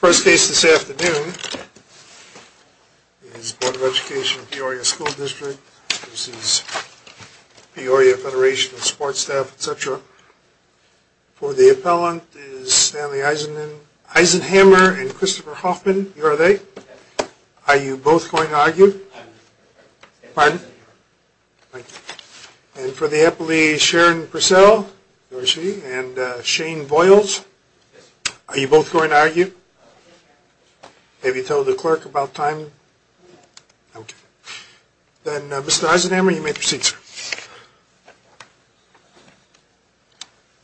First case this afternoon is Board of Education of Peoria School District v. Peoria Federation of Support Staff, etc. For the appellant is Stanley Eisenhammer and Christopher Hoffman. Are you both going to argue? For the appellee is Sharon Purcell and Shane Boyles. Are you both going to argue? Have you told the clerk about time? Then Mr. Eisenhammer you may proceed sir.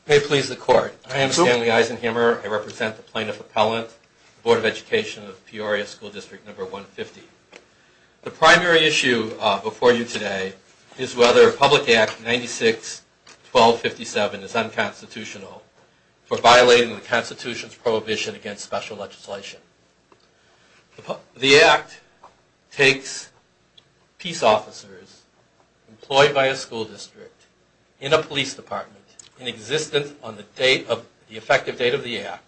May it please the court. I am Stanley Eisenhammer. I represent the plaintiff appellant, Board of Education of Peoria School District 150. The primary issue before you today is whether Public Act 96-1257 is unconstitutional for violating the Constitution's prohibition against special legislation. The Act takes peace officers employed by a school district in a police department in existence on the effective date of the Act,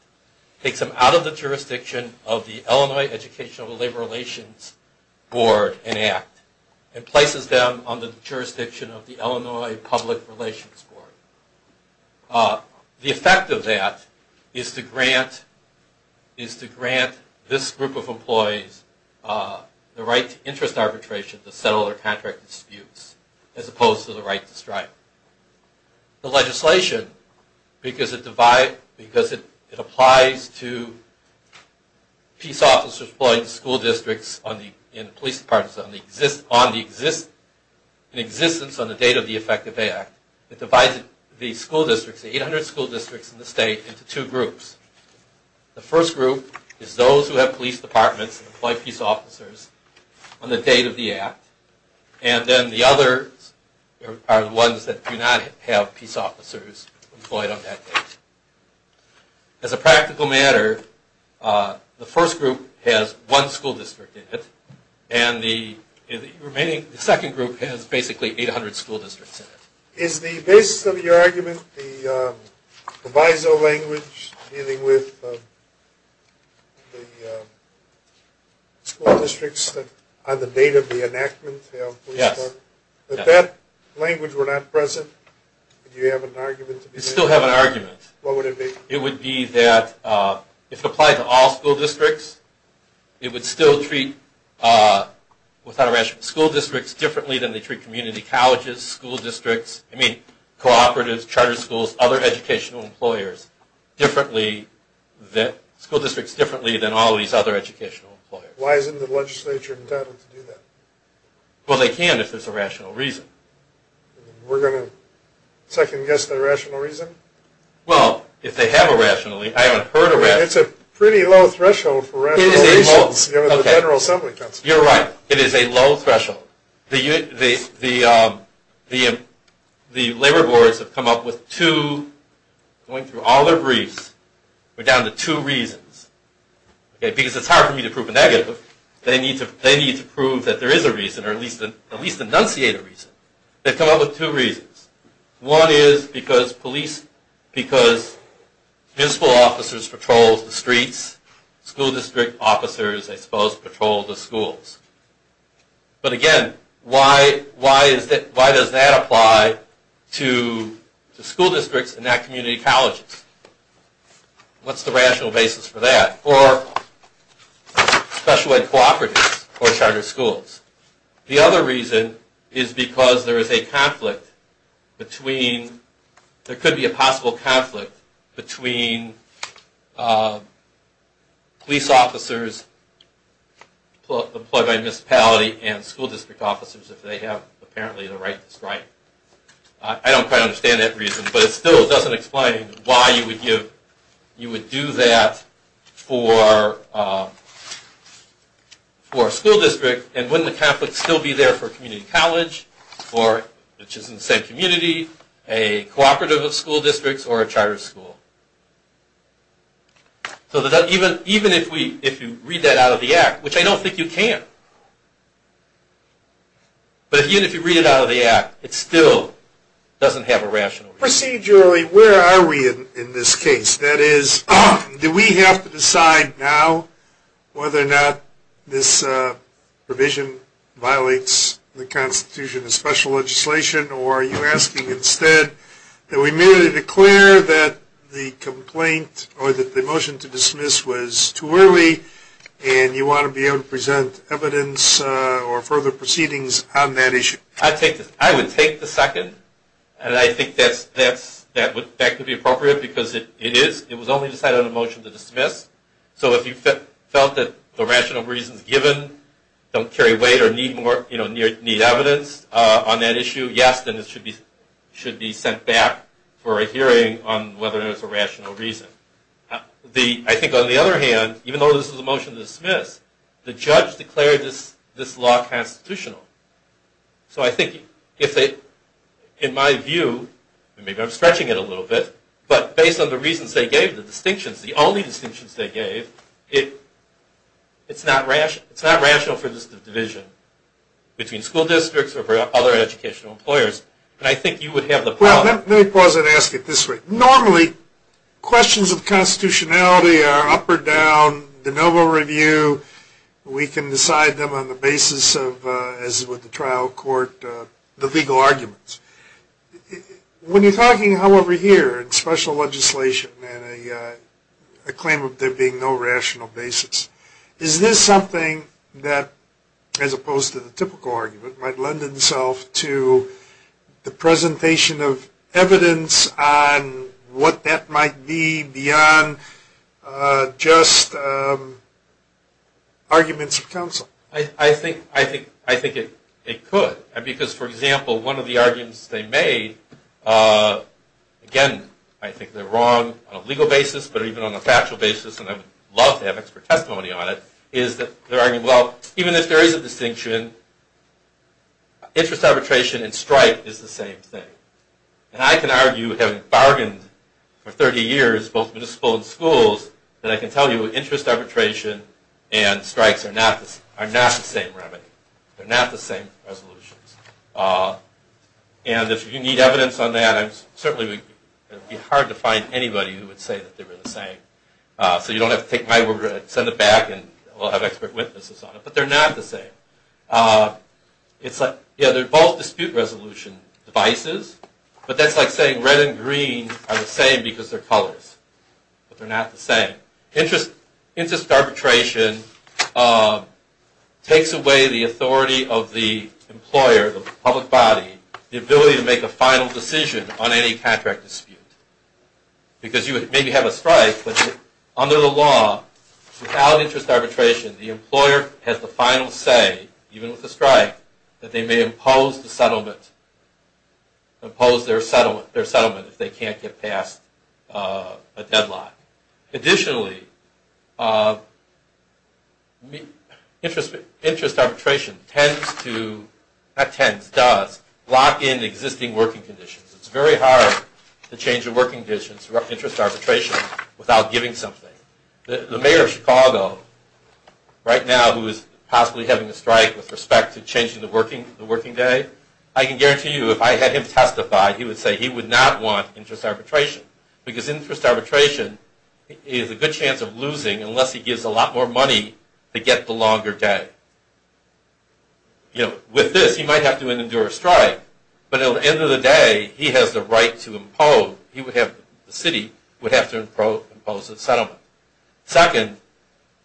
takes them out of the jurisdiction of the Illinois Educational and Labor Relations Board and Act, and places them on the jurisdiction of the Illinois Public Relations Board. The effect of that is to grant this group of employees the right to interest arbitration to settle their contract disputes as opposed to the right to strike. The legislation, because it applies to peace officers employing school districts in police departments in existence on the date of the effective Act, it divides the school districts, the 800 school districts in the state into two groups. The first group is those who have police departments and employ peace officers on the date of the Act. And then the others are the ones that do not have peace officers employed on that date. As a practical matter, the first group has one school district in it, and the remaining second group has basically 800 school districts in it. Is the basis of your argument, the viso language dealing with the school districts on the date of the enactment of the police department, that that language were not present? Do you have an argument to be made? We still have an argument. What would it be? It would be that if it applied to all school districts, it would still treat school districts differently than they treat community colleges, school districts, I mean cooperatives, charter schools, other educational employers differently than all these other educational employers. Why isn't the legislature entitled to do that? Well, they can if there's a rational reason. We're going to second guess the rational reason? Well, if they have a rational reason. I haven't heard a rational reason. It's a pretty low threshold for rational reasons given the General Assembly Council. You're right. It is a low threshold. The labor boards have come up with two, going through all their briefs, we're down to two reasons. Because it's hard for me to prove a negative, they need to prove that there is a reason, or at least enunciate a reason. They've come up with two reasons. One is because municipal officers patrol the streets, school district officers, I suppose, patrol the schools. But again, why does that apply to school districts and not community colleges? What's the rational basis for that? Or special ed cooperatives or charter schools. The other reason is because there could be a possible conflict between police officers employed by a municipality and school district officers, if they have apparently the right to strike. I don't quite understand that reason, but it still doesn't explain why you would do that for a school district. And wouldn't the conflict still be there for a community college, which is in the same community, a cooperative of school districts, or a charter school. So even if you read that out of the act, which I don't think you can, but even if you read it out of the act, it still doesn't have a rational reason. Procedurally, where are we in this case? That is, do we have to decide now whether or not this provision violates the Constitution and special legislation, or are you asking instead that we merely declare that the complaint or that the motion to dismiss was too early, and you want to be able to present evidence or further proceedings on that issue? I would take the second, and I think that would be appropriate, because it was only decided on a motion to dismiss. So if you felt that the rational reasons given don't carry weight or need evidence on that issue, yes, then it should be sent back for a hearing on whether or not it's a rational reason. I think, on the other hand, even though this is a motion to dismiss, the judge declared this law constitutional. So I think, in my view, and maybe I'm stretching it a little bit, but based on the reasons they gave, the distinctions, the only distinctions they gave, it's not rational for this division between school districts or other educational employers. And I think you would have the power. Let me pause and ask it this way. Normally, questions of constitutionality are up or down, de novo review. We can decide them on the basis of, as with the trial court, the legal arguments. When you're talking, however, here in special legislation and a claim of there being no rational basis, is this something that, as opposed to the typical argument, might lend itself to the presentation of evidence on what that might be beyond just arguments of counsel? I think it could. Because, for example, one of the arguments they made, again, I think they're wrong on a legal basis, but even on a factual basis, and I would love to have expert testimony on it, is that they're arguing, well, even if there is a distinction, interest arbitration and strike is the same thing. And I can argue, having bargained for 30 years, both municipal and schools, that I can tell you interest arbitration and strikes are not the same remedy. They're not the same resolutions. And if you need evidence on that, certainly it would be hard to find anybody who would say that they were the same. So you don't have to take my word for it. Send it back and we'll have expert witnesses on it. But they're not the same. It's like, yeah, they're both dispute resolution devices, but that's like saying red and green are the same because they're colors. But they're not the same. Interest arbitration takes away the authority of the employer, the public body, the ability to make a final decision on any contract dispute. Because you would maybe have a strike, but under the law, without interest arbitration, the employer has the final say, even with a strike, that they may impose the settlement, impose their settlement if they can't get past a deadline. Additionally, interest arbitration tends to, not tends, does, lock in existing working conditions. It's very hard to change the working conditions for interest arbitration without giving something. The mayor of Chicago, right now, who is possibly having a strike with respect to changing the working day, I can guarantee you if I had him testify, he would say he would not want interest arbitration. Because interest arbitration is a good chance of losing unless he gives a lot more money to get the longer day. With this, he might have to endure a strike, but at the end of the day, he has the right to impose, he would have, the city would have to impose a settlement. Second,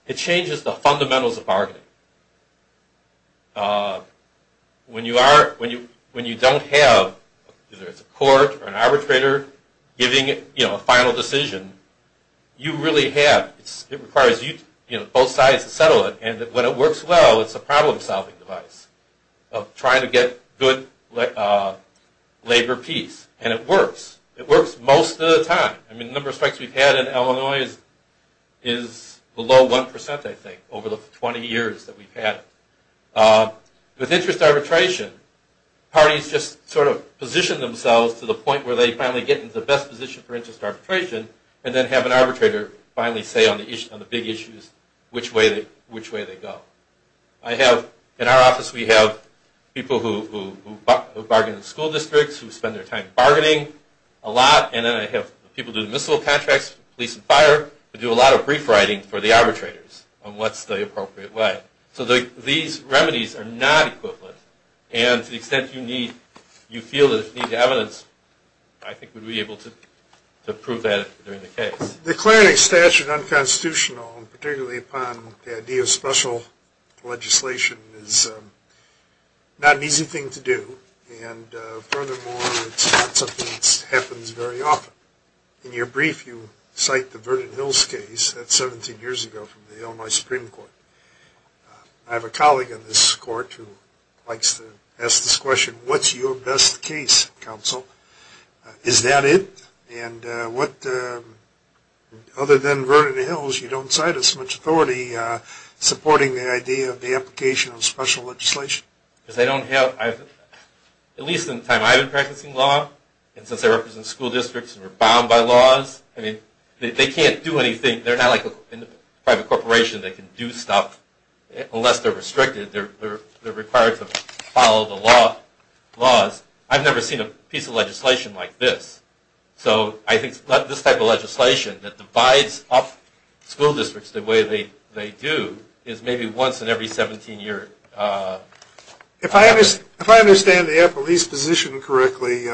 it changes the fundamentals of bargaining. When you don't have, whether it's a court or an arbitrator, giving a final decision, you really have, it requires both sides to settle it, and when it works well, it's a problem-solving device of trying to get good labor peace, and it works. It works most of the time. I mean, the number of strikes we've had in Illinois is below 1%, I think, over the 20 years that we've had. With interest arbitration, parties just sort of position themselves to the point where they finally get in the best position for interest arbitration, and then have an arbitrator finally say on the big issues which way they go. I have, in our office, we have people who bargain in school districts, who spend their time bargaining a lot, and then I have people doing missile contracts, police and fire, who do a lot of brief writing for the arbitrators on what's the appropriate way. So these remedies are not equivalent, and to the extent you need, you feel that you need the evidence, I think we'd be able to prove that during the case. Declaring a statute unconstitutional, and particularly upon the idea of special legislation, is not an easy thing to do, and furthermore, it's not something that happens very often. In your brief, you cite the Vernon Hills case. That's 17 years ago from the Illinois Supreme Court. I have a colleague in this court who likes to ask this question. What's your best case, counsel? Is that it? And what, other than Vernon Hills, you don't cite as much authority supporting the idea of the application of special legislation? Because I don't have, at least in the time I've been practicing law, and since I represent school districts and we're bound by laws, I mean, they can't do anything. They're not like a private corporation that can do stuff unless they're restricted. They're required to follow the laws. I've never seen a piece of legislation like this. So I think this type of legislation that divides up school districts the way they do is maybe once in every 17 years. If I understand the appellee's position correctly,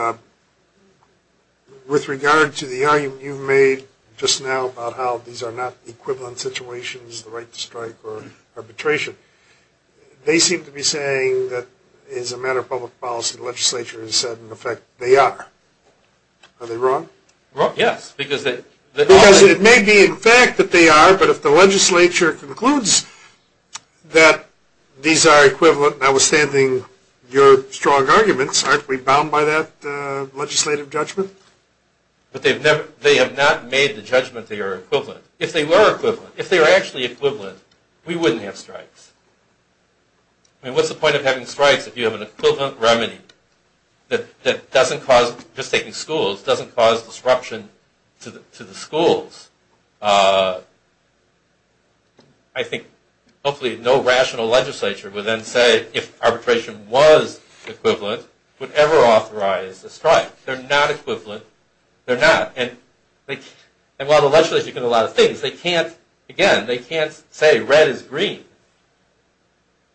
with regard to the argument you made just now about how these are not equivalent situations, the right to strike or arbitration, they seem to be saying that as a matter of public policy, the legislature has said, in effect, they are. Are they wrong? Wrong, yes. Because it may be, in fact, that they are, but if the legislature concludes that these are equivalent, notwithstanding your strong arguments, aren't we bound by that legislative judgment? But they have not made the judgment they are equivalent. If they were equivalent, if they were actually equivalent, we wouldn't have strikes. I mean, what's the point of having strikes if you have an equivalent remedy that doesn't cause, just taking schools, doesn't cause disruption to the schools? I think hopefully no rational legislature would then say if arbitration was equivalent, would ever authorize a strike. They're not equivalent. They're not. And while the legislature can do a lot of things, they can't, again, they can't say red is green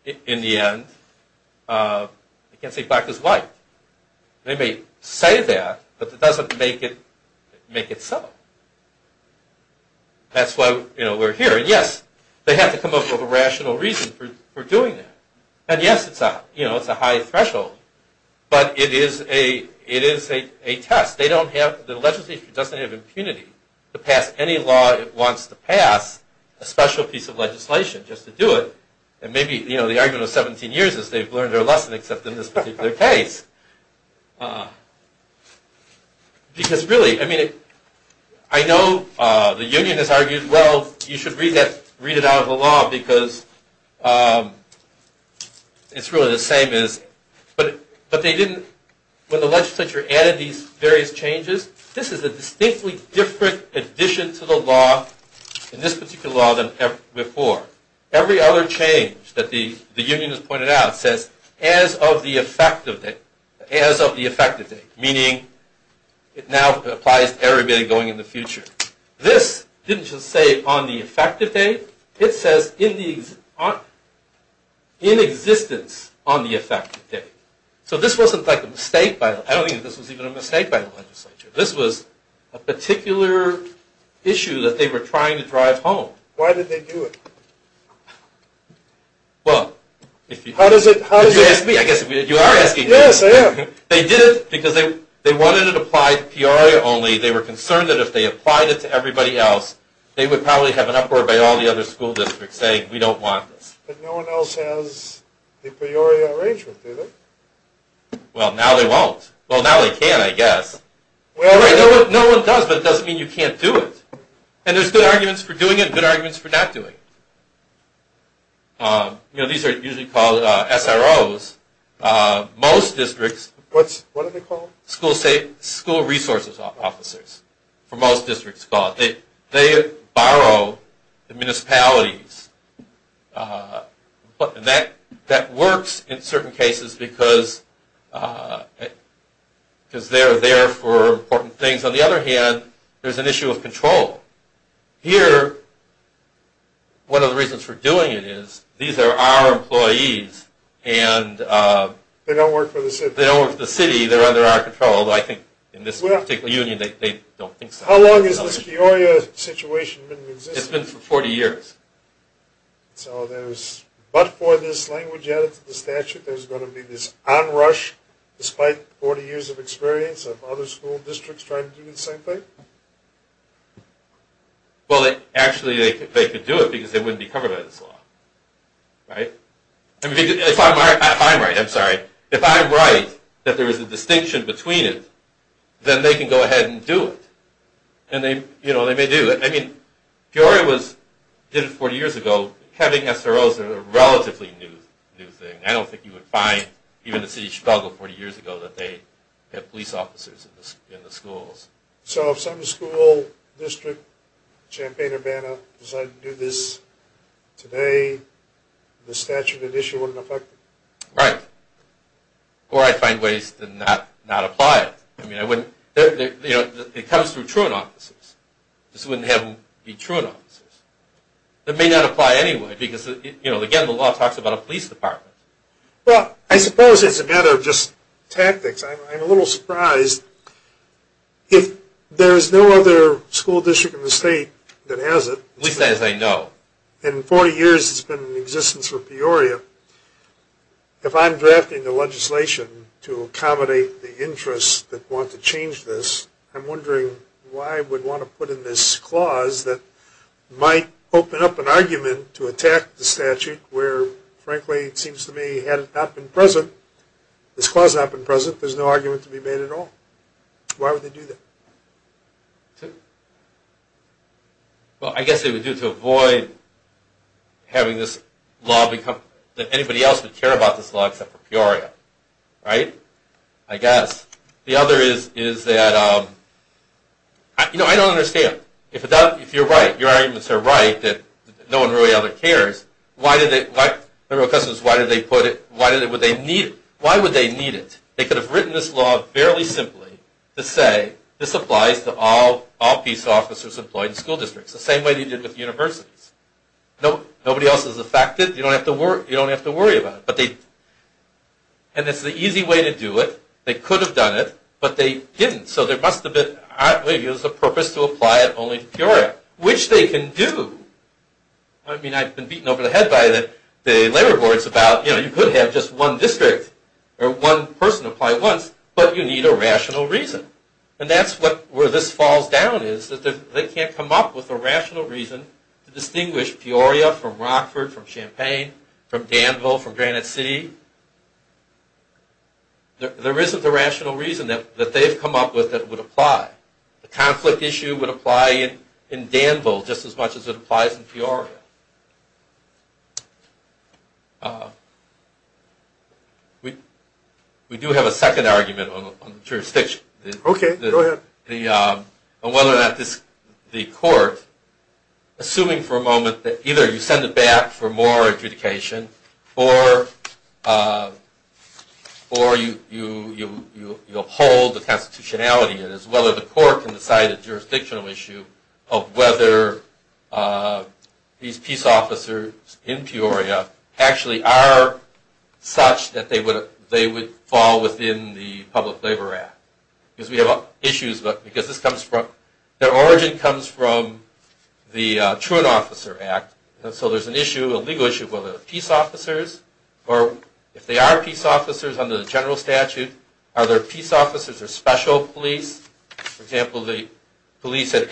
in the end. They can't say black is white. They may say that, but it doesn't make it so. That's why we're here. And yes, they have to come up with a rational reason for doing that. And yes, it's a high threshold, but it is a test. The legislature doesn't have impunity to pass any law it wants to pass, a special piece of legislation just to do it. And maybe, you know, the argument of 17 years is they've learned their lesson except in this particular case. Because really, I mean, I know the union has argued, well, you should read it out of the law because it's really the same as, but they didn't, when the legislature added these various changes, this is a distinctly different addition to the law, in this particular law, than before. Every other change that the union has pointed out says as of the effective date, as of the effective date, meaning it now applies to everybody going in the future. This didn't just say on the effective date. It says in existence on the effective date. So this wasn't like a mistake by the, I don't think this was even a mistake by the legislature. This was a particular issue that they were trying to drive home. Why did they do it? Well, if you ask me, I guess you are asking me. Yes, I am. They did it because they wanted it applied Peoria only. They were concerned that if they applied it to everybody else, they would probably have an uproar by all the other school districts saying we don't want this. But no one else has the Peoria arrangement, do they? Well, now they won't. Well, now they can, I guess. No one does, but it doesn't mean you can't do it. And there's good arguments for doing it and good arguments for not doing it. You know, these are usually called SROs. Most districts, what are they called? School resources officers, for most districts. They borrow the municipalities. That works in certain cases because they're there for important things. On the other hand, there's an issue of control. Here, one of the reasons for doing it is these are our employees. They don't work for the city. They don't work for the city. They're under our control, although I think in this particular union they don't think so. How long has this Peoria situation been in existence? It's been for 40 years. So there's, but for this language added to the statute, there's going to be this onrush despite 40 years of experience of other school districts trying to do the same thing? Well, actually, they could do it because they wouldn't be covered by this law. If I'm right, if I'm right, I'm sorry, if I'm right that there is a distinction between it, then they can go ahead and do it. And they may do it. I mean, Peoria did it 40 years ago. Having SROs is a relatively new thing. I don't think you would find, even in the city of Chicago 40 years ago, that they had police officers in the schools. So if some school district, Champaign-Urbana, decided to do this today, the statute of the issue wouldn't affect it? Right. Or I'd find ways to not apply it. I mean, it comes through truant officers. This wouldn't have them be truant officers. It may not apply anyway because, you know, again, the law talks about a police department. Well, I suppose it's a matter of just tactics. I'm a little surprised. If there is no other school district in the state that has it. At least as I know. In 40 years it's been in existence for Peoria. If I'm drafting the legislation to accommodate the interests that want to change this, I'm wondering why we'd want to put in this clause that might open up an argument to attack the statute where, frankly, it seems to me, had it not been present, this clause had not been present, there's no argument to be made at all. Why would they do that? Well, I guess they would do it to avoid having this law become, that anybody else would care about this law except for Peoria. Right? I guess. The other is that, you know, I don't understand. Right? If you're right, your arguments are right that no one really ever cares, why did they put it, why would they need it? They could have written this law fairly simply to say, this applies to all police officers employed in school districts. The same way they did with universities. Nobody else is affected. You don't have to worry about it. And it's the easy way to do it. They could have done it, but they didn't. So there must have been, I believe it was the purpose to apply it only to Peoria, which they can do. I mean, I've been beaten over the head by the labor boards about, you know, you could have just one district or one person apply once, but you need a rational reason. And that's where this falls down is that they can't come up with a rational reason to distinguish Peoria from Rockford, from Champaign, from Danville, from Granite City. There isn't a rational reason that they've come up with that would apply. The conflict issue would apply in Danville just as much as it applies in Peoria. We do have a second argument on the jurisdiction. Okay, go ahead. On whether or not the court, assuming for a moment that either you send it back for more adjudication or you uphold the constitutionality as well as the court can decide a jurisdictional issue of whether these peace officers in Peoria actually are such that they would fall within the Public Labor Act. Because we have issues, because this comes from, their origin comes from the Truant Officer Act. And so there's an issue, a legal issue of whether peace officers, or if they are peace officers under the general statute, are their peace officers a special police? For example, the police at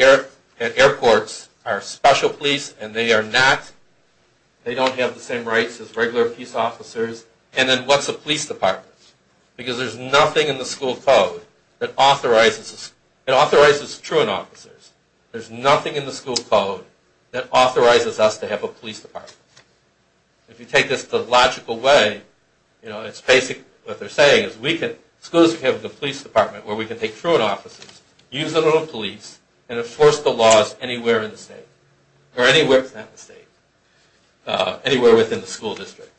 airports are special police and they are not, they don't have the same rights as regular peace officers. And then what's a police department? Because there's nothing in the school code that authorizes, it authorizes Truant Officers. There's nothing in the school code that authorizes us to have a police department. If you take this to a logical way, you know, it's basic, what they're saying is we can, schools can have a police department where we can take Truant Officers, use them on police, and enforce the laws anywhere in the state. Or anywhere, not the state, anywhere within the school district.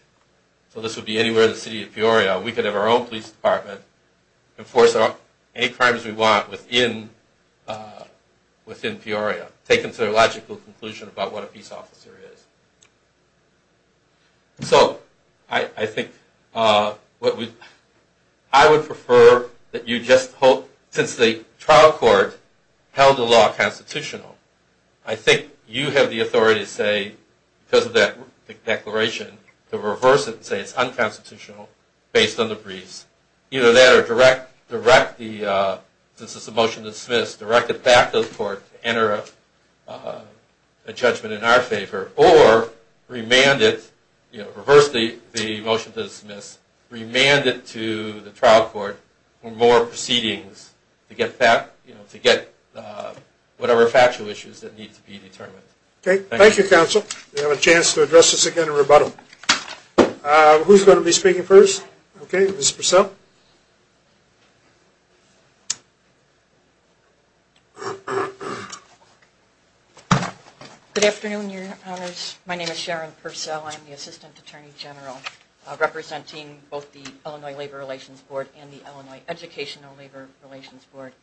So this would be anywhere in the city of Peoria. We could have our own police department, enforce any crimes we want within Peoria, taken to a logical conclusion about what a peace officer is. So I think what we, I would prefer that you just hope, since the trial court held the law constitutional, I think you have the authority to say, because of that declaration, to reverse it and say it's unconstitutional based on the briefs. Either that or direct the, since it's a motion to dismiss, direct it back to the court to enter a judgment in our favor. Or remand it, you know, reverse the motion to dismiss, remand it to the trial court for more proceedings to get back, you know, to get whatever factual issues that need to be determined. Okay. Thank you, Counsel. We have a chance to address this again in rebuttal. Who's going to be speaking first? Okay, Ms. Purcell. Good afternoon, Your Honors. My name is Sharon Purcell. I'm the Assistant Attorney General representing both the Illinois Labor Relations Board and the Illinois Educational Labor Relations Board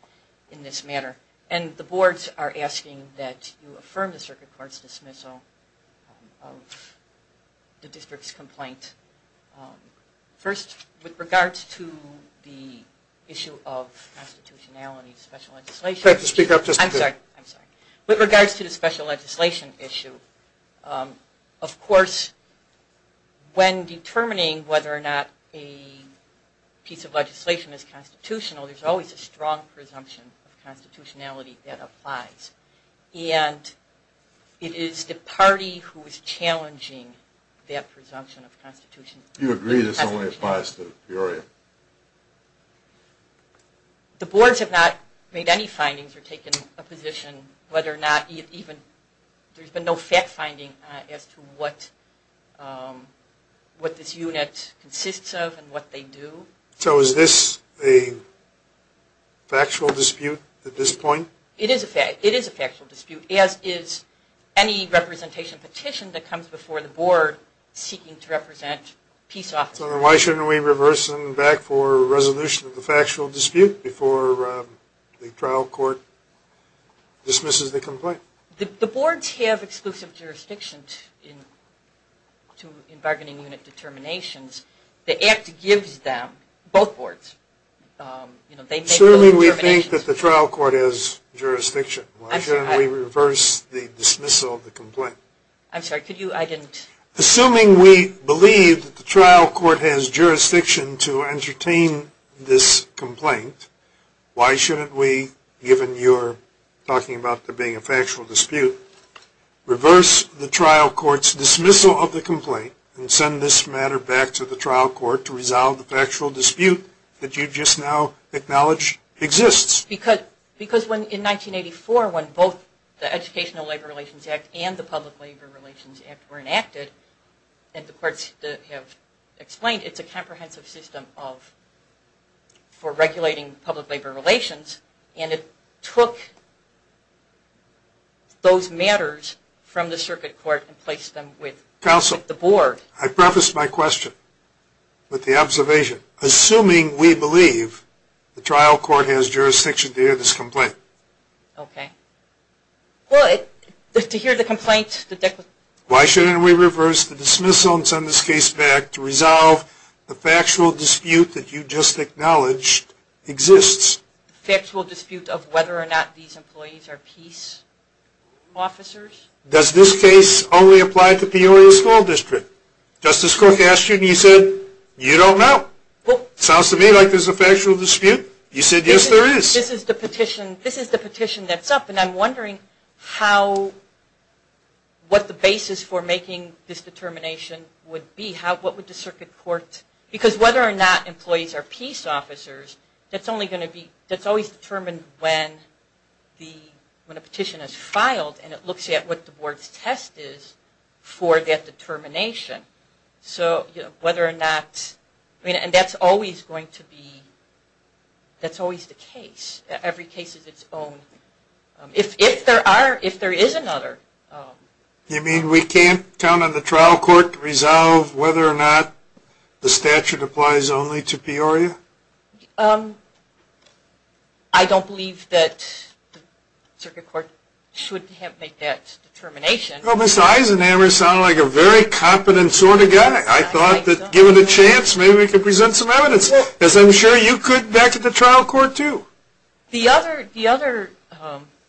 in this matter. And the boards are asking that you affirm the circuit court's dismissal of the district's complaint. First, with regards to the issue of constitutionality of special legislation. I'd like to speak up just a bit. I'm sorry. I'm sorry. With regards to the special legislation issue, of course, when determining whether or not a piece of legislation is constitutional, there's always a strong presumption of constitutionality that applies. And it is the party who is challenging that presumption of constitutionality. You agree this only applies to the period? The boards have not made any findings or taken a position whether or not even, there's been no fact-finding as to what this unit consists of and what they do. So is this a factual dispute at this point? It is a factual dispute, as is any representation petition that comes before the board seeking to represent peace officers. So why shouldn't we reverse them back for resolution of the factual dispute before the trial court dismisses the complaint? The boards have exclusive jurisdiction in bargaining unit determinations. The act gives them, both boards, they make their own determinations. Why shouldn't we think that the trial court has jurisdiction? Why shouldn't we reverse the dismissal of the complaint? I'm sorry, could you, I didn't. Assuming we believe that the trial court has jurisdiction to entertain this complaint, why shouldn't we, given you're talking about there being a factual dispute, reverse the trial court's dismissal of the complaint and send this matter back to the trial court to resolve the factual dispute that you just now acknowledged exists? Because in 1984, when both the Educational Labor Relations Act and the Public Labor Relations Act were enacted, and the courts have explained it's a comprehensive system for regulating public labor relations, and it took those matters from the circuit court and placed them with the board. I prefaced my question with the observation, assuming we believe the trial court has jurisdiction to hear this complaint. Okay. Well, to hear the complaint. Why shouldn't we reverse the dismissal and send this case back to resolve the factual dispute that you just acknowledged exists? The factual dispute of whether or not these employees are peace officers? Does this case only apply to Peoria School District? Justice Cook asked you and you said, you don't know. Sounds to me like there's a factual dispute. You said, yes, there is. This is the petition that's up, and I'm wondering how, what the basis for making this determination would be. What would the circuit court, because whether or not employees are peace officers, that's only going to be, that's always determined when a petition is filed and it looks at what the board's test is for that determination. So whether or not, and that's always going to be, that's always the case. Every case is its own. If there are, if there is another. You mean we can't count on the trial court to resolve whether or not the statute applies only to Peoria? I don't believe that the circuit court should have made that determination. Well, Mr. Eisenhammer sounded like a very competent sort of guy. I thought that given a chance, maybe we could present some evidence. Because I'm sure you could back at the trial court too. The other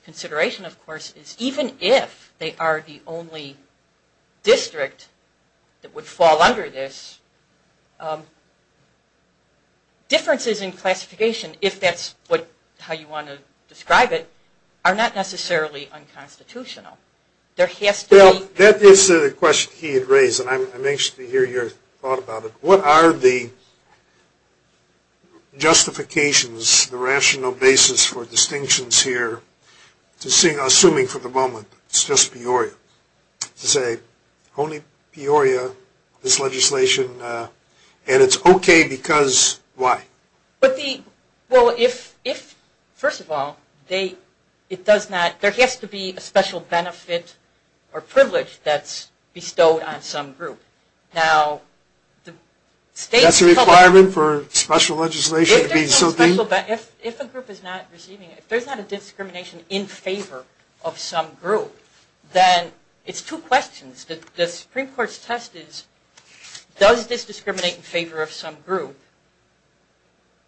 consideration, of course, is even if they are the only district that would fall under this, differences in classification, if that's how you want to describe it, are not necessarily unconstitutional. There has to be. That is a question he had raised, and I'm anxious to hear your thought about it. What are the justifications, the rational basis for distinctions here, assuming for the moment it's just Peoria, to say only Peoria, this legislation, and it's okay because why? Well, first of all, there has to be a special benefit or privilege that's bestowed on some group. That's a requirement for special legislation? If a group is not receiving it, if there's not a discrimination in favor of some group, then it's two questions. The Supreme Court's test is, does this discriminate in favor of some group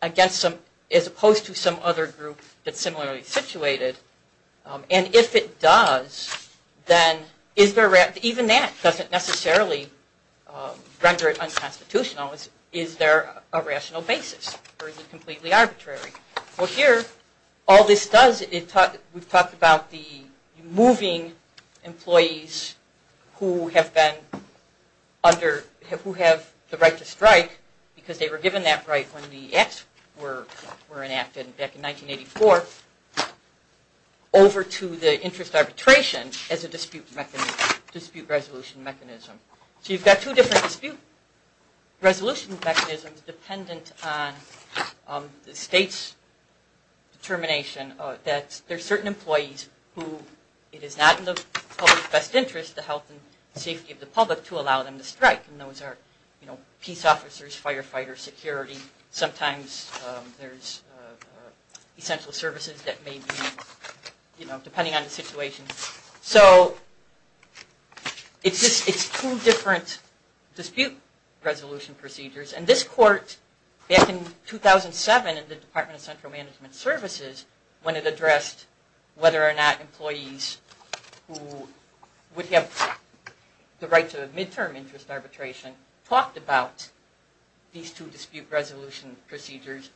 as opposed to some other group that's similarly situated? And if it does, then even that doesn't necessarily render it unconstitutional. Is there a rational basis or is it completely arbitrary? Well, here, all this does, we've talked about the moving employees who have the right to strike because they were given that right when the acts were enacted back in 1984 over to the interest arbitration as a dispute resolution mechanism. So you've got two different dispute resolution mechanisms dependent on the state's determination that there are certain employees who it is not in the public's best interest to help the safety of the public to allow them to strike. And those are peace officers, firefighters, security. Sometimes there's essential services that may be, depending on the situation. So it's two different dispute resolution procedures. And this court, back in 2007 in the Department of Central Management Services, when it addressed whether or not employees who would have the right to midterm interest arbitration talked about these two dispute resolution procedures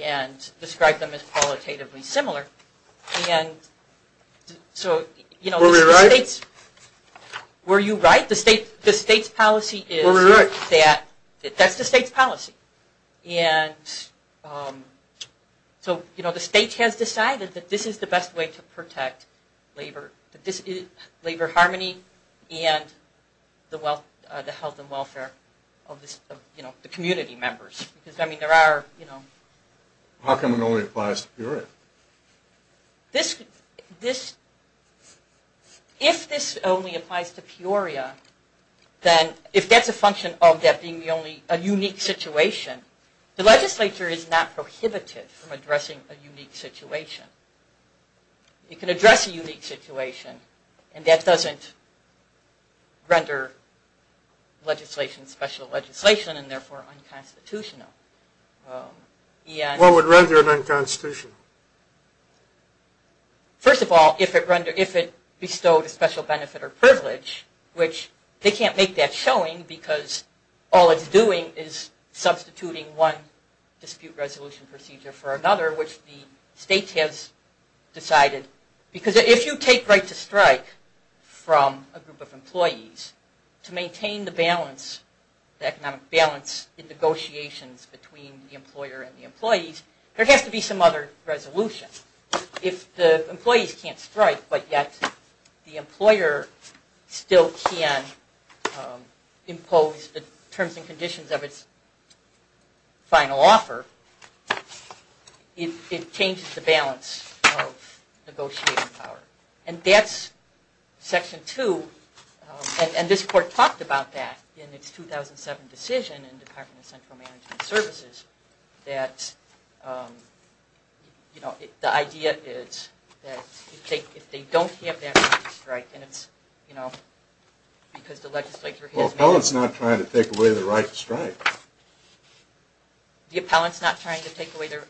and described them as qualitatively similar. Were we right? Were you right? The state's policy is that that's the state's policy. And so the state has decided that this is the best way to protect labor harmony and the health and welfare of the community members. How come it only applies to Peoria? If this only applies to Peoria, then if that's a function of that being a unique situation, the legislature is not prohibited from addressing a unique situation. You can address a unique situation and that doesn't render legislation special legislation and therefore unconstitutional. What would render it unconstitutional? First of all, if it bestowed a special benefit or privilege, which they can't make that showing because all it's doing is substituting one dispute resolution procedure for another, which the state has decided. Because if you take right to strike from a group of employees, to maintain the balance, the economic balance in negotiations between the employer and the employees, there has to be some other resolution. If the employees can't strike but yet the employer still can impose the terms and conditions of its final offer, it changes the balance of negotiating power. And that's section two. And this court talked about that in its 2007 decision in the Department of Central Management Services. That the idea is that if they don't have that right to strike, and it's because the legislature has... Well, the appellant's not trying to take away the right to strike. The appellant's not trying to take away their...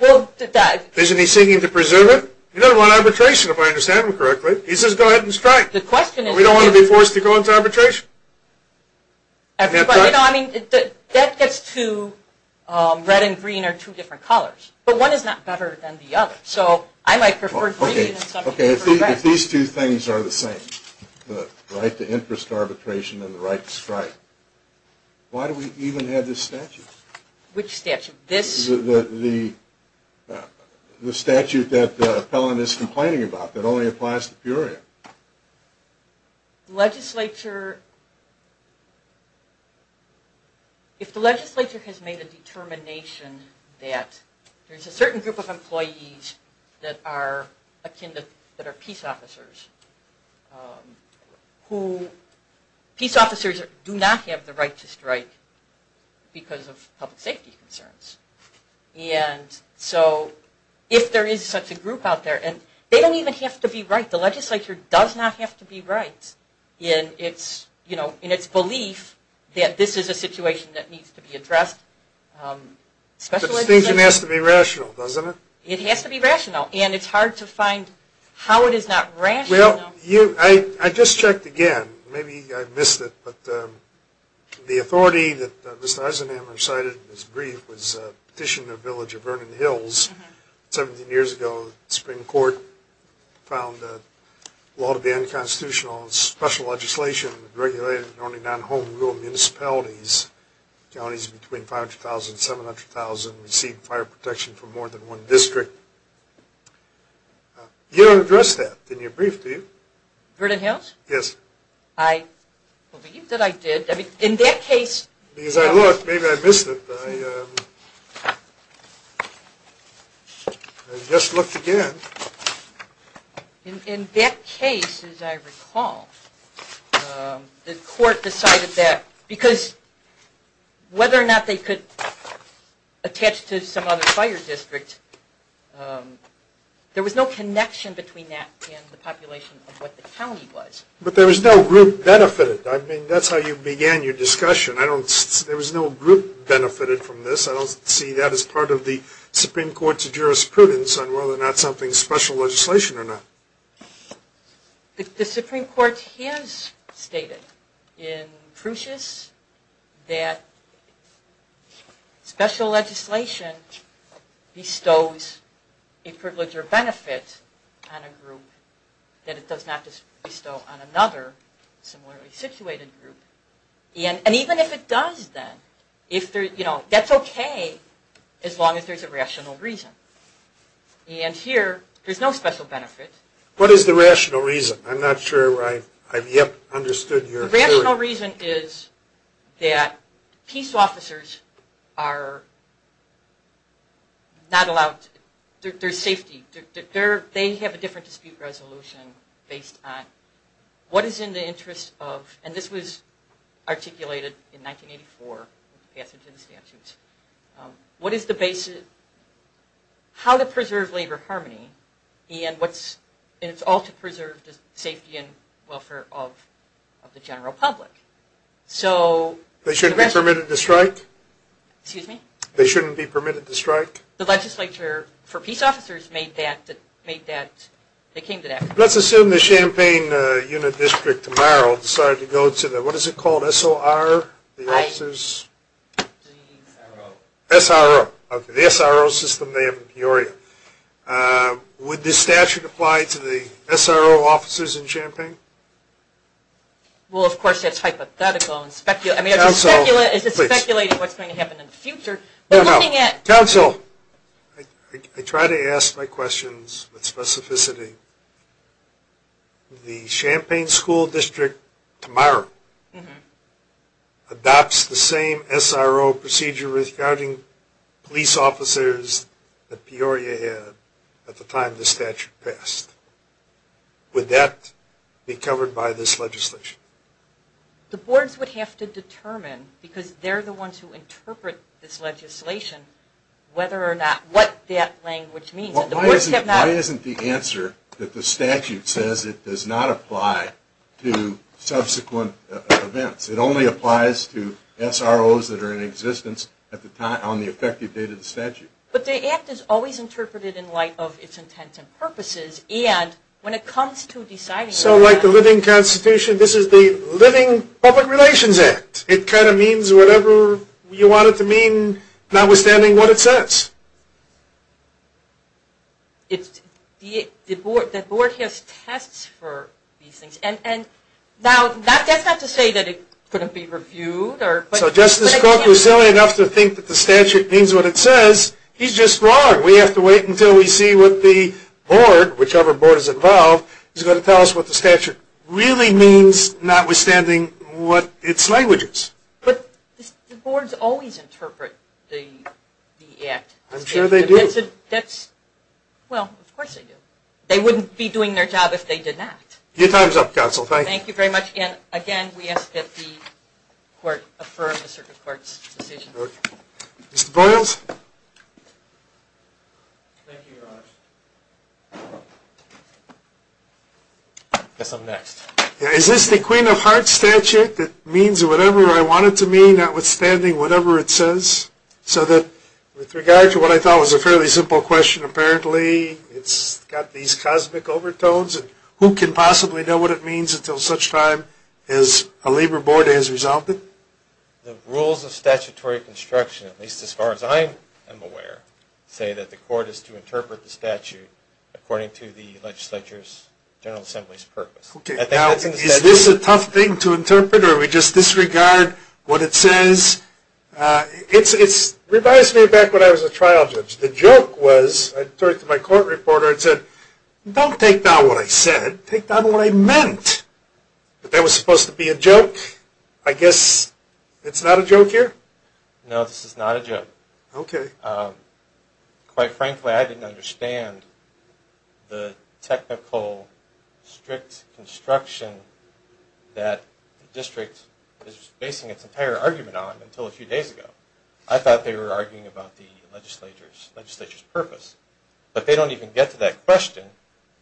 Isn't he seeking to preserve it? He doesn't want arbitration, if I understand him correctly. He says go ahead and strike. The question is... We don't want to be forced to go into arbitration. You know, I mean, that gets to red and green are two different colors. But one is not better than the other. So I might prefer green... Okay, if these two things are the same, the right to interest arbitration and the right to strike, why do we even have this statute? Which statute? The statute that the appellant is complaining about that only applies to Peoria. The legislature... If the legislature has made a determination that there's a certain group of employees that are akin to... peace officers, who... Peace officers do not have the right to strike because of public safety concerns. And so if there is such a group out there, and they don't even have to be right. The legislature does not have to be right in its belief that this is a situation that needs to be addressed. But it has to be rational, doesn't it? It has to be rational. And it's hard to find how it is not rational. Well, I just checked again. Maybe I missed it. But the authority that Mr. Eisenhamer cited in his brief was Petitioner Village of Vernon Hills. 17 years ago, the Supreme Court found the law to be unconstitutional. Special legislation regulated only non-home rule municipalities, counties between 500,000 and 700,000, and received fire protection from more than one district. You don't address that in your brief, do you? Vernon Hills? Yes. I believe that I did. In that case... Because I looked. Maybe I missed it. I just looked again. In that case, as I recall, the court decided that... Because whether or not they could attach to some other fire district, there was no connection between that and the population of what the county was. But there was no group benefited. I mean, that's how you began your discussion. There was no group benefited from this. I don't see that as part of the Supreme Court's jurisprudence on whether or not something's special legislation or not. The Supreme Court has stated in Prusias that special legislation bestows a privilege or benefit on a group that it does not bestow on another similarly situated group. And even if it does, then, that's okay as long as there's a rational reason. And here, there's no special benefit. What is the rational reason? I'm not sure I've yet understood your theory. The rational reason is that peace officers are not allowed... There's safety. They have a different dispute resolution based on what is in the interest of... And this was articulated in 1984 in the passage of the statute. What is the basis... How to preserve labor harmony and it's all to preserve the safety and welfare of the general public. So... They shouldn't be permitted to strike? Excuse me? They shouldn't be permitted to strike? The legislature for peace officers made that... Let's assume the Champaign unit district tomorrow decided to go to the... What is it called? SOR? The officers... SRO. SRO. Okay, the SRO system they have in Peoria. Would this statute apply to the SRO officers in Champaign? Well, of course, that's hypothetical. I mean, is this speculating what's going to happen in the future? We're looking at... Council! I try to ask my questions with specificity. The Champaign school district tomorrow adopts the same SRO procedure regarding police officers that Peoria had at the time the statute passed. Would that be covered by this legislation? The boards would have to determine, because they're the ones who interpret this legislation, whether or not... What that language means. Why isn't the answer that the statute says it does not apply to subsequent events? It only applies to SROs that are in existence on the effective date of the statute. But the act is always interpreted in light of its intent and purposes, and when it comes to deciding... So like the Living Constitution, this is the Living Public Relations Act. It kind of means whatever you want it to mean, notwithstanding what it says. The board has tests for these things. Now, that's not to say that it couldn't be reviewed. So Justice Cook was silly enough to think that the statute means what it says. He's just wrong. We have to wait until we see what the board, whichever board is involved, is going to tell us what the statute really means, notwithstanding what its language is. But the boards always interpret the act. I'm sure they do. Well, of course they do. They wouldn't be doing their job if they did not. Your time is up, counsel. Thank you very much. And again, we ask that the court affirm the Circuit Court's decision. Mr. Boyles? Thank you, Your Honor. I guess I'm next. Is this the Queen of Hearts statute that means whatever I want it to mean, notwithstanding whatever it says? So that with regard to what I thought was a fairly simple question, apparently it's got these cosmic overtones, and who can possibly know what it means until such time as a labor board has resolved it? The rules of statutory construction, at least as far as I am aware, say that the court is to interpret the statute according to the legislature's general assembly's purpose. Now, is this a tough thing to interpret, or do we just disregard what it says? It reminds me of back when I was a trial judge. The joke was I turned to my court reporter and said, don't take down what I said. Take down what I meant. But that was supposed to be a joke. I guess it's not a joke here? No, this is not a joke. Okay. Quite frankly, I didn't understand the technical strict construction that the district is basing its entire argument on until a few days ago. I thought they were arguing about the legislature's purpose. But they don't even get to that question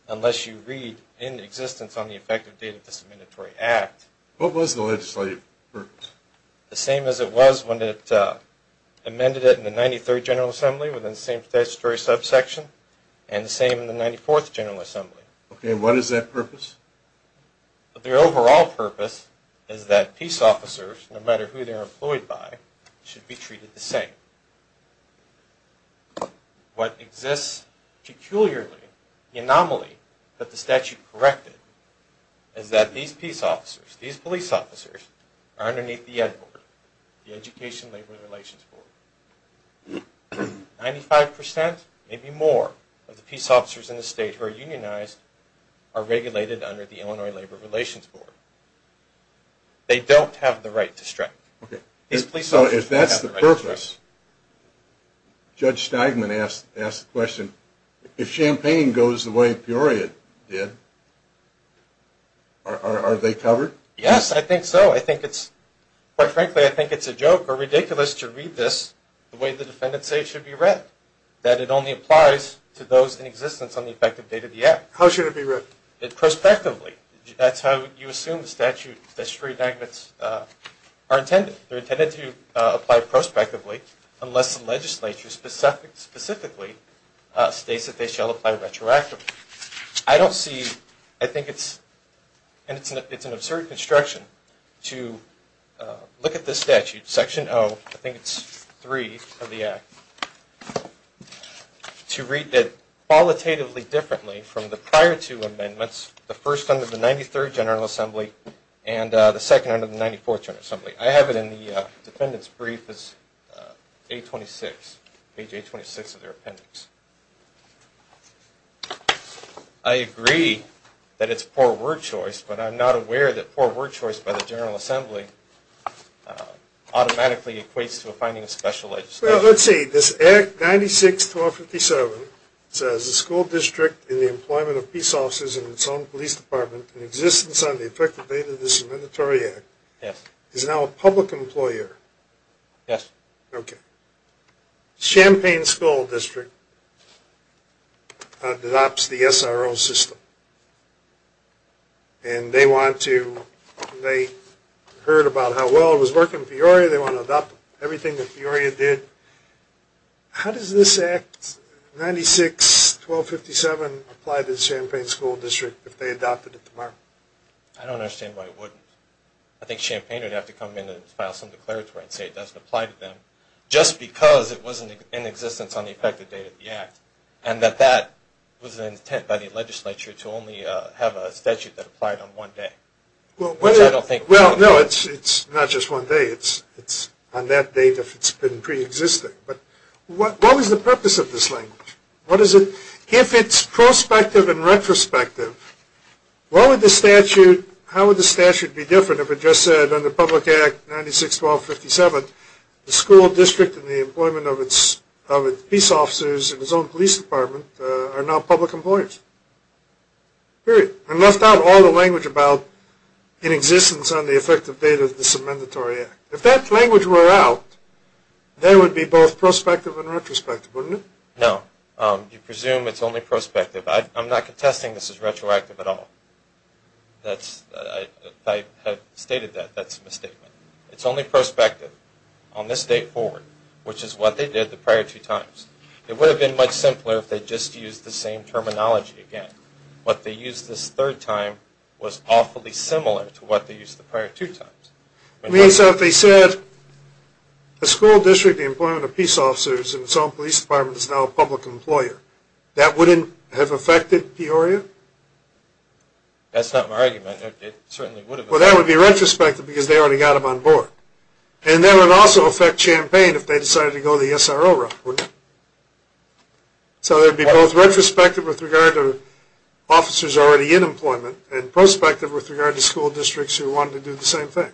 unless you read in existence on the effective date of this amendatory act. What was the legislature's purpose? The same as it was when it amended it in the 93rd General Assembly within the same statutory subsection, and the same in the 94th General Assembly. Okay, and what is their purpose? Their overall purpose is that peace officers, no matter who they're employed by, should be treated the same. What exists peculiarly, the anomaly that the statute corrected, is that these peace officers, these police officers, are underneath the ED Board, the Education Labor Relations Board. Ninety-five percent, maybe more, of the peace officers in the state who are unionized are regulated under the Illinois Labor Relations Board. They don't have the right to strike. Okay, so if that's the purpose, Judge Steigman asked the question, if Champaign goes the way Peoria did, are they covered? Yes, I think so. Quite frankly, I think it's a joke or ridiculous to read this the way the defendants say it should be read, that it only applies to those in existence on the effective date of the act. How should it be read? Prospectively. That's how you assume the statutory amendments are intended. They're intended to apply prospectively unless the legislature specifically states that they shall apply retroactively. I don't see, I think it's an absurd construction to look at this statute, Section 0, I think it's 3 of the act, to read it qualitatively differently from the prior two amendments, the first under the 93rd General Assembly and the second under the 94th General Assembly. I have it in the defendant's brief, page 826 of their appendix. I agree that it's poor word choice, but I'm not aware that poor word choice by the General Assembly automatically equates to a finding of special legislation. Well, let's see. This Act 96-1257 says the school district in the employment of peace officers in its own police department in existence on the effective date of this amendatory act is now a public employer. Yes. Okay. Champaign School District adopts the SRO system. And they want to, they heard about how well it was working in Peoria, they want to adopt everything that Peoria did. How does this Act 96-1257 apply to the Champaign School District if they adopted it tomorrow? I don't understand why it wouldn't. I think Champaign would have to come in and file some declaratory and say it doesn't apply to them, just because it wasn't in existence on the effective date of the act, and that that was an intent by the legislature to only have a statute that applied on one day. Well, no, it's not just one day. It's on that date if it's been preexisting. But what was the purpose of this language? What is it? If it's prospective and retrospective, what would the statute, how would the statute be different if it just said under Public Act 96-1257 the school district in the employment of its peace officers in its own police department are now public employers? Period. And left out all the language about in existence on the effective date of this amendatory act. If that language were out, there would be both prospective and retrospective, wouldn't it? No. You presume it's only prospective. I'm not contesting this is retroactive at all. I have stated that. That's a misstatement. It's only prospective on this date forward, which is what they did the prior two times. It would have been much simpler if they just used the same terminology again. What they used this third time was awfully similar to what they used the prior two times. I mean, so if they said the school district in the employment of peace officers in its own police department is now a public employer, that wouldn't have affected Peoria? That's not my argument. It certainly would have. Well, that would be retrospective because they already got them on board. And that would also affect Champaign if they decided to go the SRO route, wouldn't it? So it would be both retrospective with regard to officers already in employment and prospective with regard to school districts who wanted to do the same thing.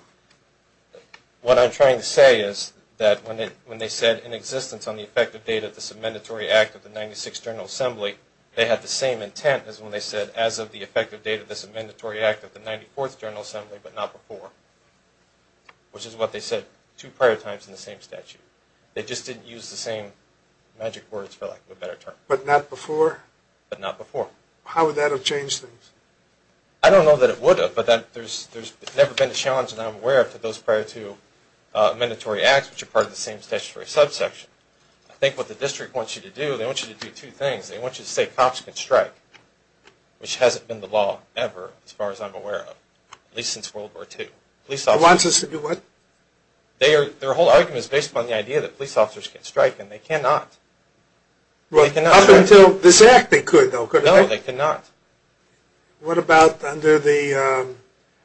What I'm trying to say is that when they said, in existence on the effective date of this amendatory act of the 96th General Assembly, they had the same intent as when they said, as of the effective date of this amendatory act of the 94th General Assembly but not before, which is what they said two prior times in the same statute. They just didn't use the same magic words, for lack of a better term. But not before? But not before. How would that have changed things? I don't know that it would have, but there's never been a challenge that I'm aware of to those prior to amendatory acts which are part of the same statutory subsection. I think what the district wants you to do, they want you to do two things. They want you to say cops can strike, which hasn't been the law ever as far as I'm aware of, at least since World War II. They want us to do what? Their whole argument is based upon the idea that police officers can strike, and they cannot. Up until this act they could, though, couldn't they? No, they could not. What about under the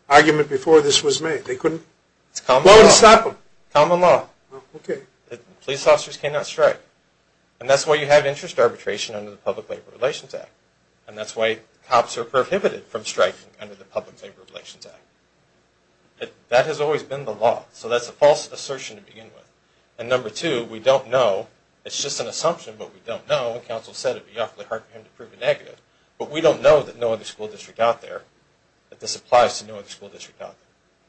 argument before this was made? Common law. Police officers cannot strike, and that's why you have interest arbitration under the Public Labor Relations Act, and that's why cops are prohibited from striking under the Public Labor Relations Act. That has always been the law, so that's a false assertion to begin with. And number two, we don't know. It's just an assumption, but we don't know. The council said it would be awfully hard for him to prove a negative, but we don't know that no other school district out there, that this applies to no other school district out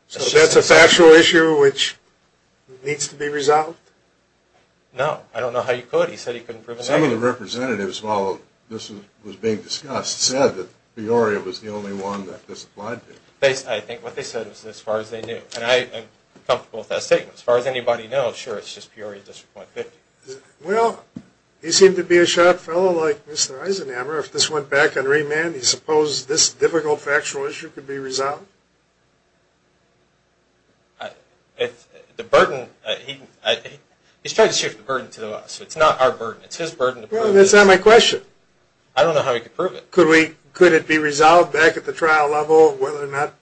there. So that's an actual issue which needs to be resolved? No. I don't know how you could. He said he couldn't prove a negative. Some of the representatives, while this was being discussed, said that Peoria was the only one that this applied to. I think what they said was as far as they knew, and I am comfortable with that statement. As far as anybody knows, sure, it's just Peoria District 150. Well, he seemed to be a sharp fellow like Mr. Eisenhower. If this went back on remand, do you suppose this difficult factual issue could be resolved? The burden, he's trying to shift the burden to us. It's not our burden. It's his burden. Well, that's not my question. I don't know how he could prove it. Could it be resolved back at the trial level whether or not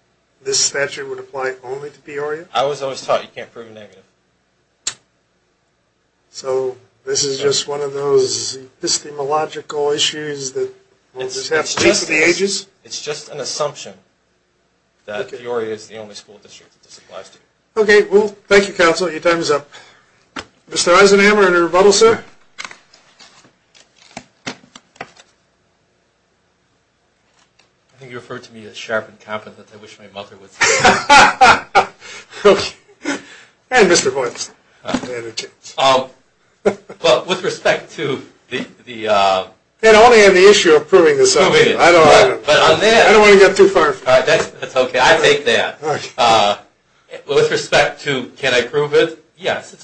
this statute would apply only to Peoria? I was always taught you can't prove a negative. So this is just one of those epistemological issues that will just happen over the ages? It's just an assumption that Peoria is the only school district that this applies to. Okay. Well, thank you, counsel. Your time is up. Mr. Eisenhower, any rebuttal, sir? I think you referred to me as sharp and competent. I wish my mother would say that. And Mr. Boynton. Well, with respect to the ‑‑ I only have the issue of proving this. I don't want to get too far. That's okay. I take that. With respect to can I prove it, yes.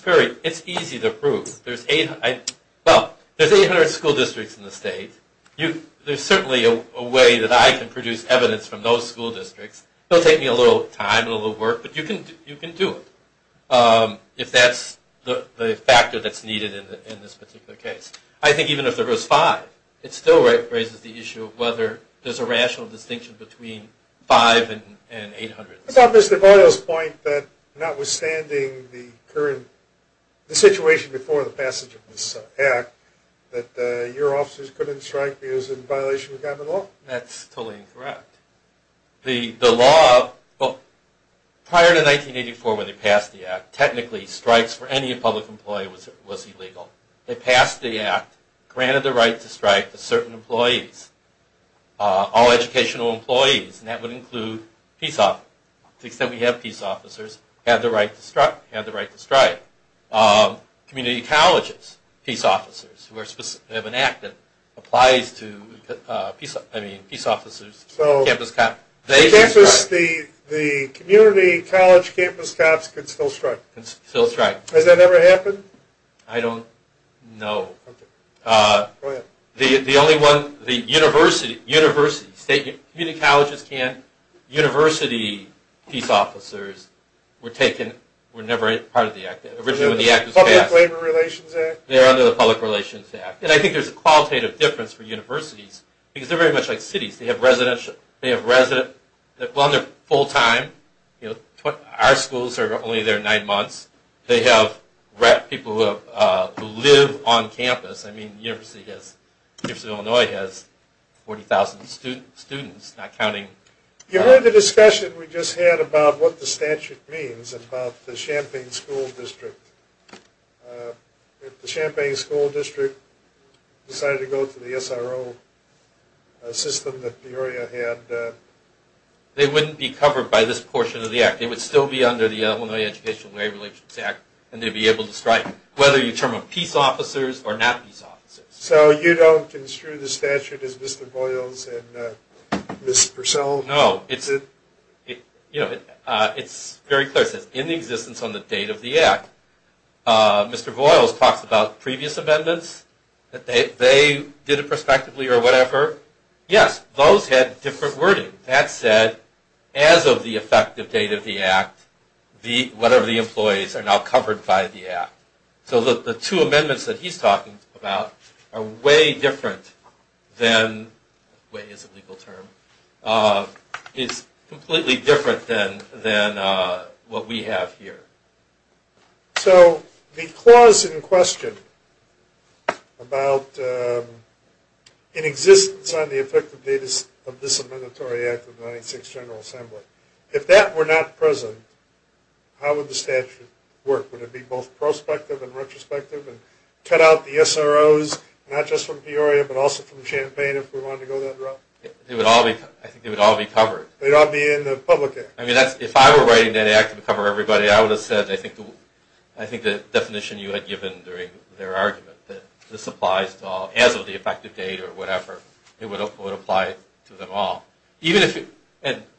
It's easy to prove. There's 800 school districts in the state. There's certainly a way that I can produce evidence from those school districts. It will take me a little time and a little work, but you can do it. If that's the factor that's needed in this particular case. I think even if there was five, it still raises the issue of whether there's a rational distinction between five and 800. What about Mr. Boynton's point that notwithstanding the current ‑‑ the situation before the passage of this act, that your officers couldn't strike because it was in violation of government law? That's totally incorrect. The law ‑‑ prior to 1984 when they passed the act, technically strikes for any public employee was illegal. They passed the act, granted the right to strike to certain employees, all educational employees, and that would include peace officers. To the extent we have peace officers, they have the right to strike. Community colleges, peace officers, who have an act that applies to peace officers, campus cops, they can strike. So the community college campus cops can still strike? Can still strike. Has that ever happened? I don't know. Go ahead. The only one, the university, state community colleges can't. University peace officers were taken, were never part of the act. Originally when the act was passed. The Public Labor Relations Act? They're under the Public Relations Act. And I think there's a qualitative difference for universities because they're very much like cities. They have resident, well, they're full time. Our schools are only there nine months. They have people who live on campus. I mean, the University of Illinois has 40,000 students, not counting. You heard the discussion we just had about what the statute means, about the Champaign School District. If the Champaign School District decided to go to the SRO system that Peoria had. They wouldn't be covered by this portion of the act. They would still be under the Illinois Education and Labor Relations Act and they'd be able to strike. Whether you term them peace officers or not peace officers. So you don't construe the statute as Mr. Boyles and Ms. Purcell? No. It's very clear. It says in the existence on the date of the act. Mr. Boyles talks about previous amendments. They did it prospectively or whatever. Yes, those had different wording. That said, as of the effective date of the act, whatever the employees are now covered by the act. So the two amendments that he's talking about are way different than, way is a legal term, is completely different than what we have here. So the clause in question about in existence on the effective date of this If that were not present, how would the statute work? Would it be both prospective and retrospective and cut out the SROs, not just from Peoria, but also from Champaign if we wanted to go that route? I think they would all be covered. They'd all be in the public act. If I were writing that act to cover everybody, I would have said, I think the definition you had given during their argument, that this applies to all, as of the effective date or whatever, it would apply to them all.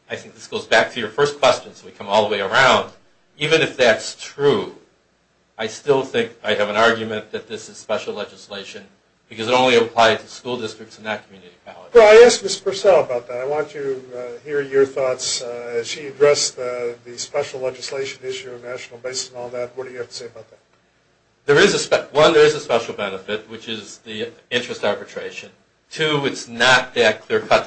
I think this goes back to your first question, so we come all the way around. Even if that's true, I still think I have an argument that this is special legislation, because it only applied to school districts and not community colleges. I asked Ms. Purcell about that. I want to hear your thoughts. She addressed the special legislation issue of National Basin and all that. What do you have to say about that? One, there is a special benefit, which is the interest arbitration. Two, it's not that clear-cut,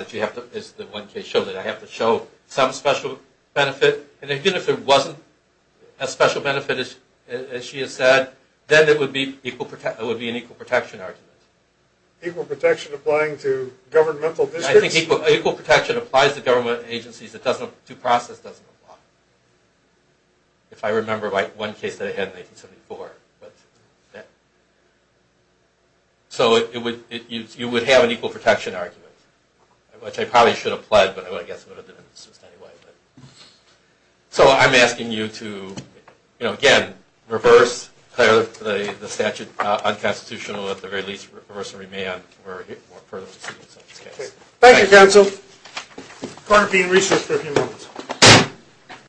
as the one case shows it. I have to show some special benefit, and even if there wasn't a special benefit, as she has said, then it would be an equal protection argument. Equal protection applying to governmental districts? I think equal protection applies to government agencies. Due process doesn't apply. If I remember one case that I had in 1974. So you would have an equal protection argument, which I probably should have pled, but I guess I would have done it anyway. So I'm asking you to, again, reverse the statute unconstitutional, or at the very least reverse and remand for further proceedings. Thank you, counsel. Court will be in recess for a few minutes.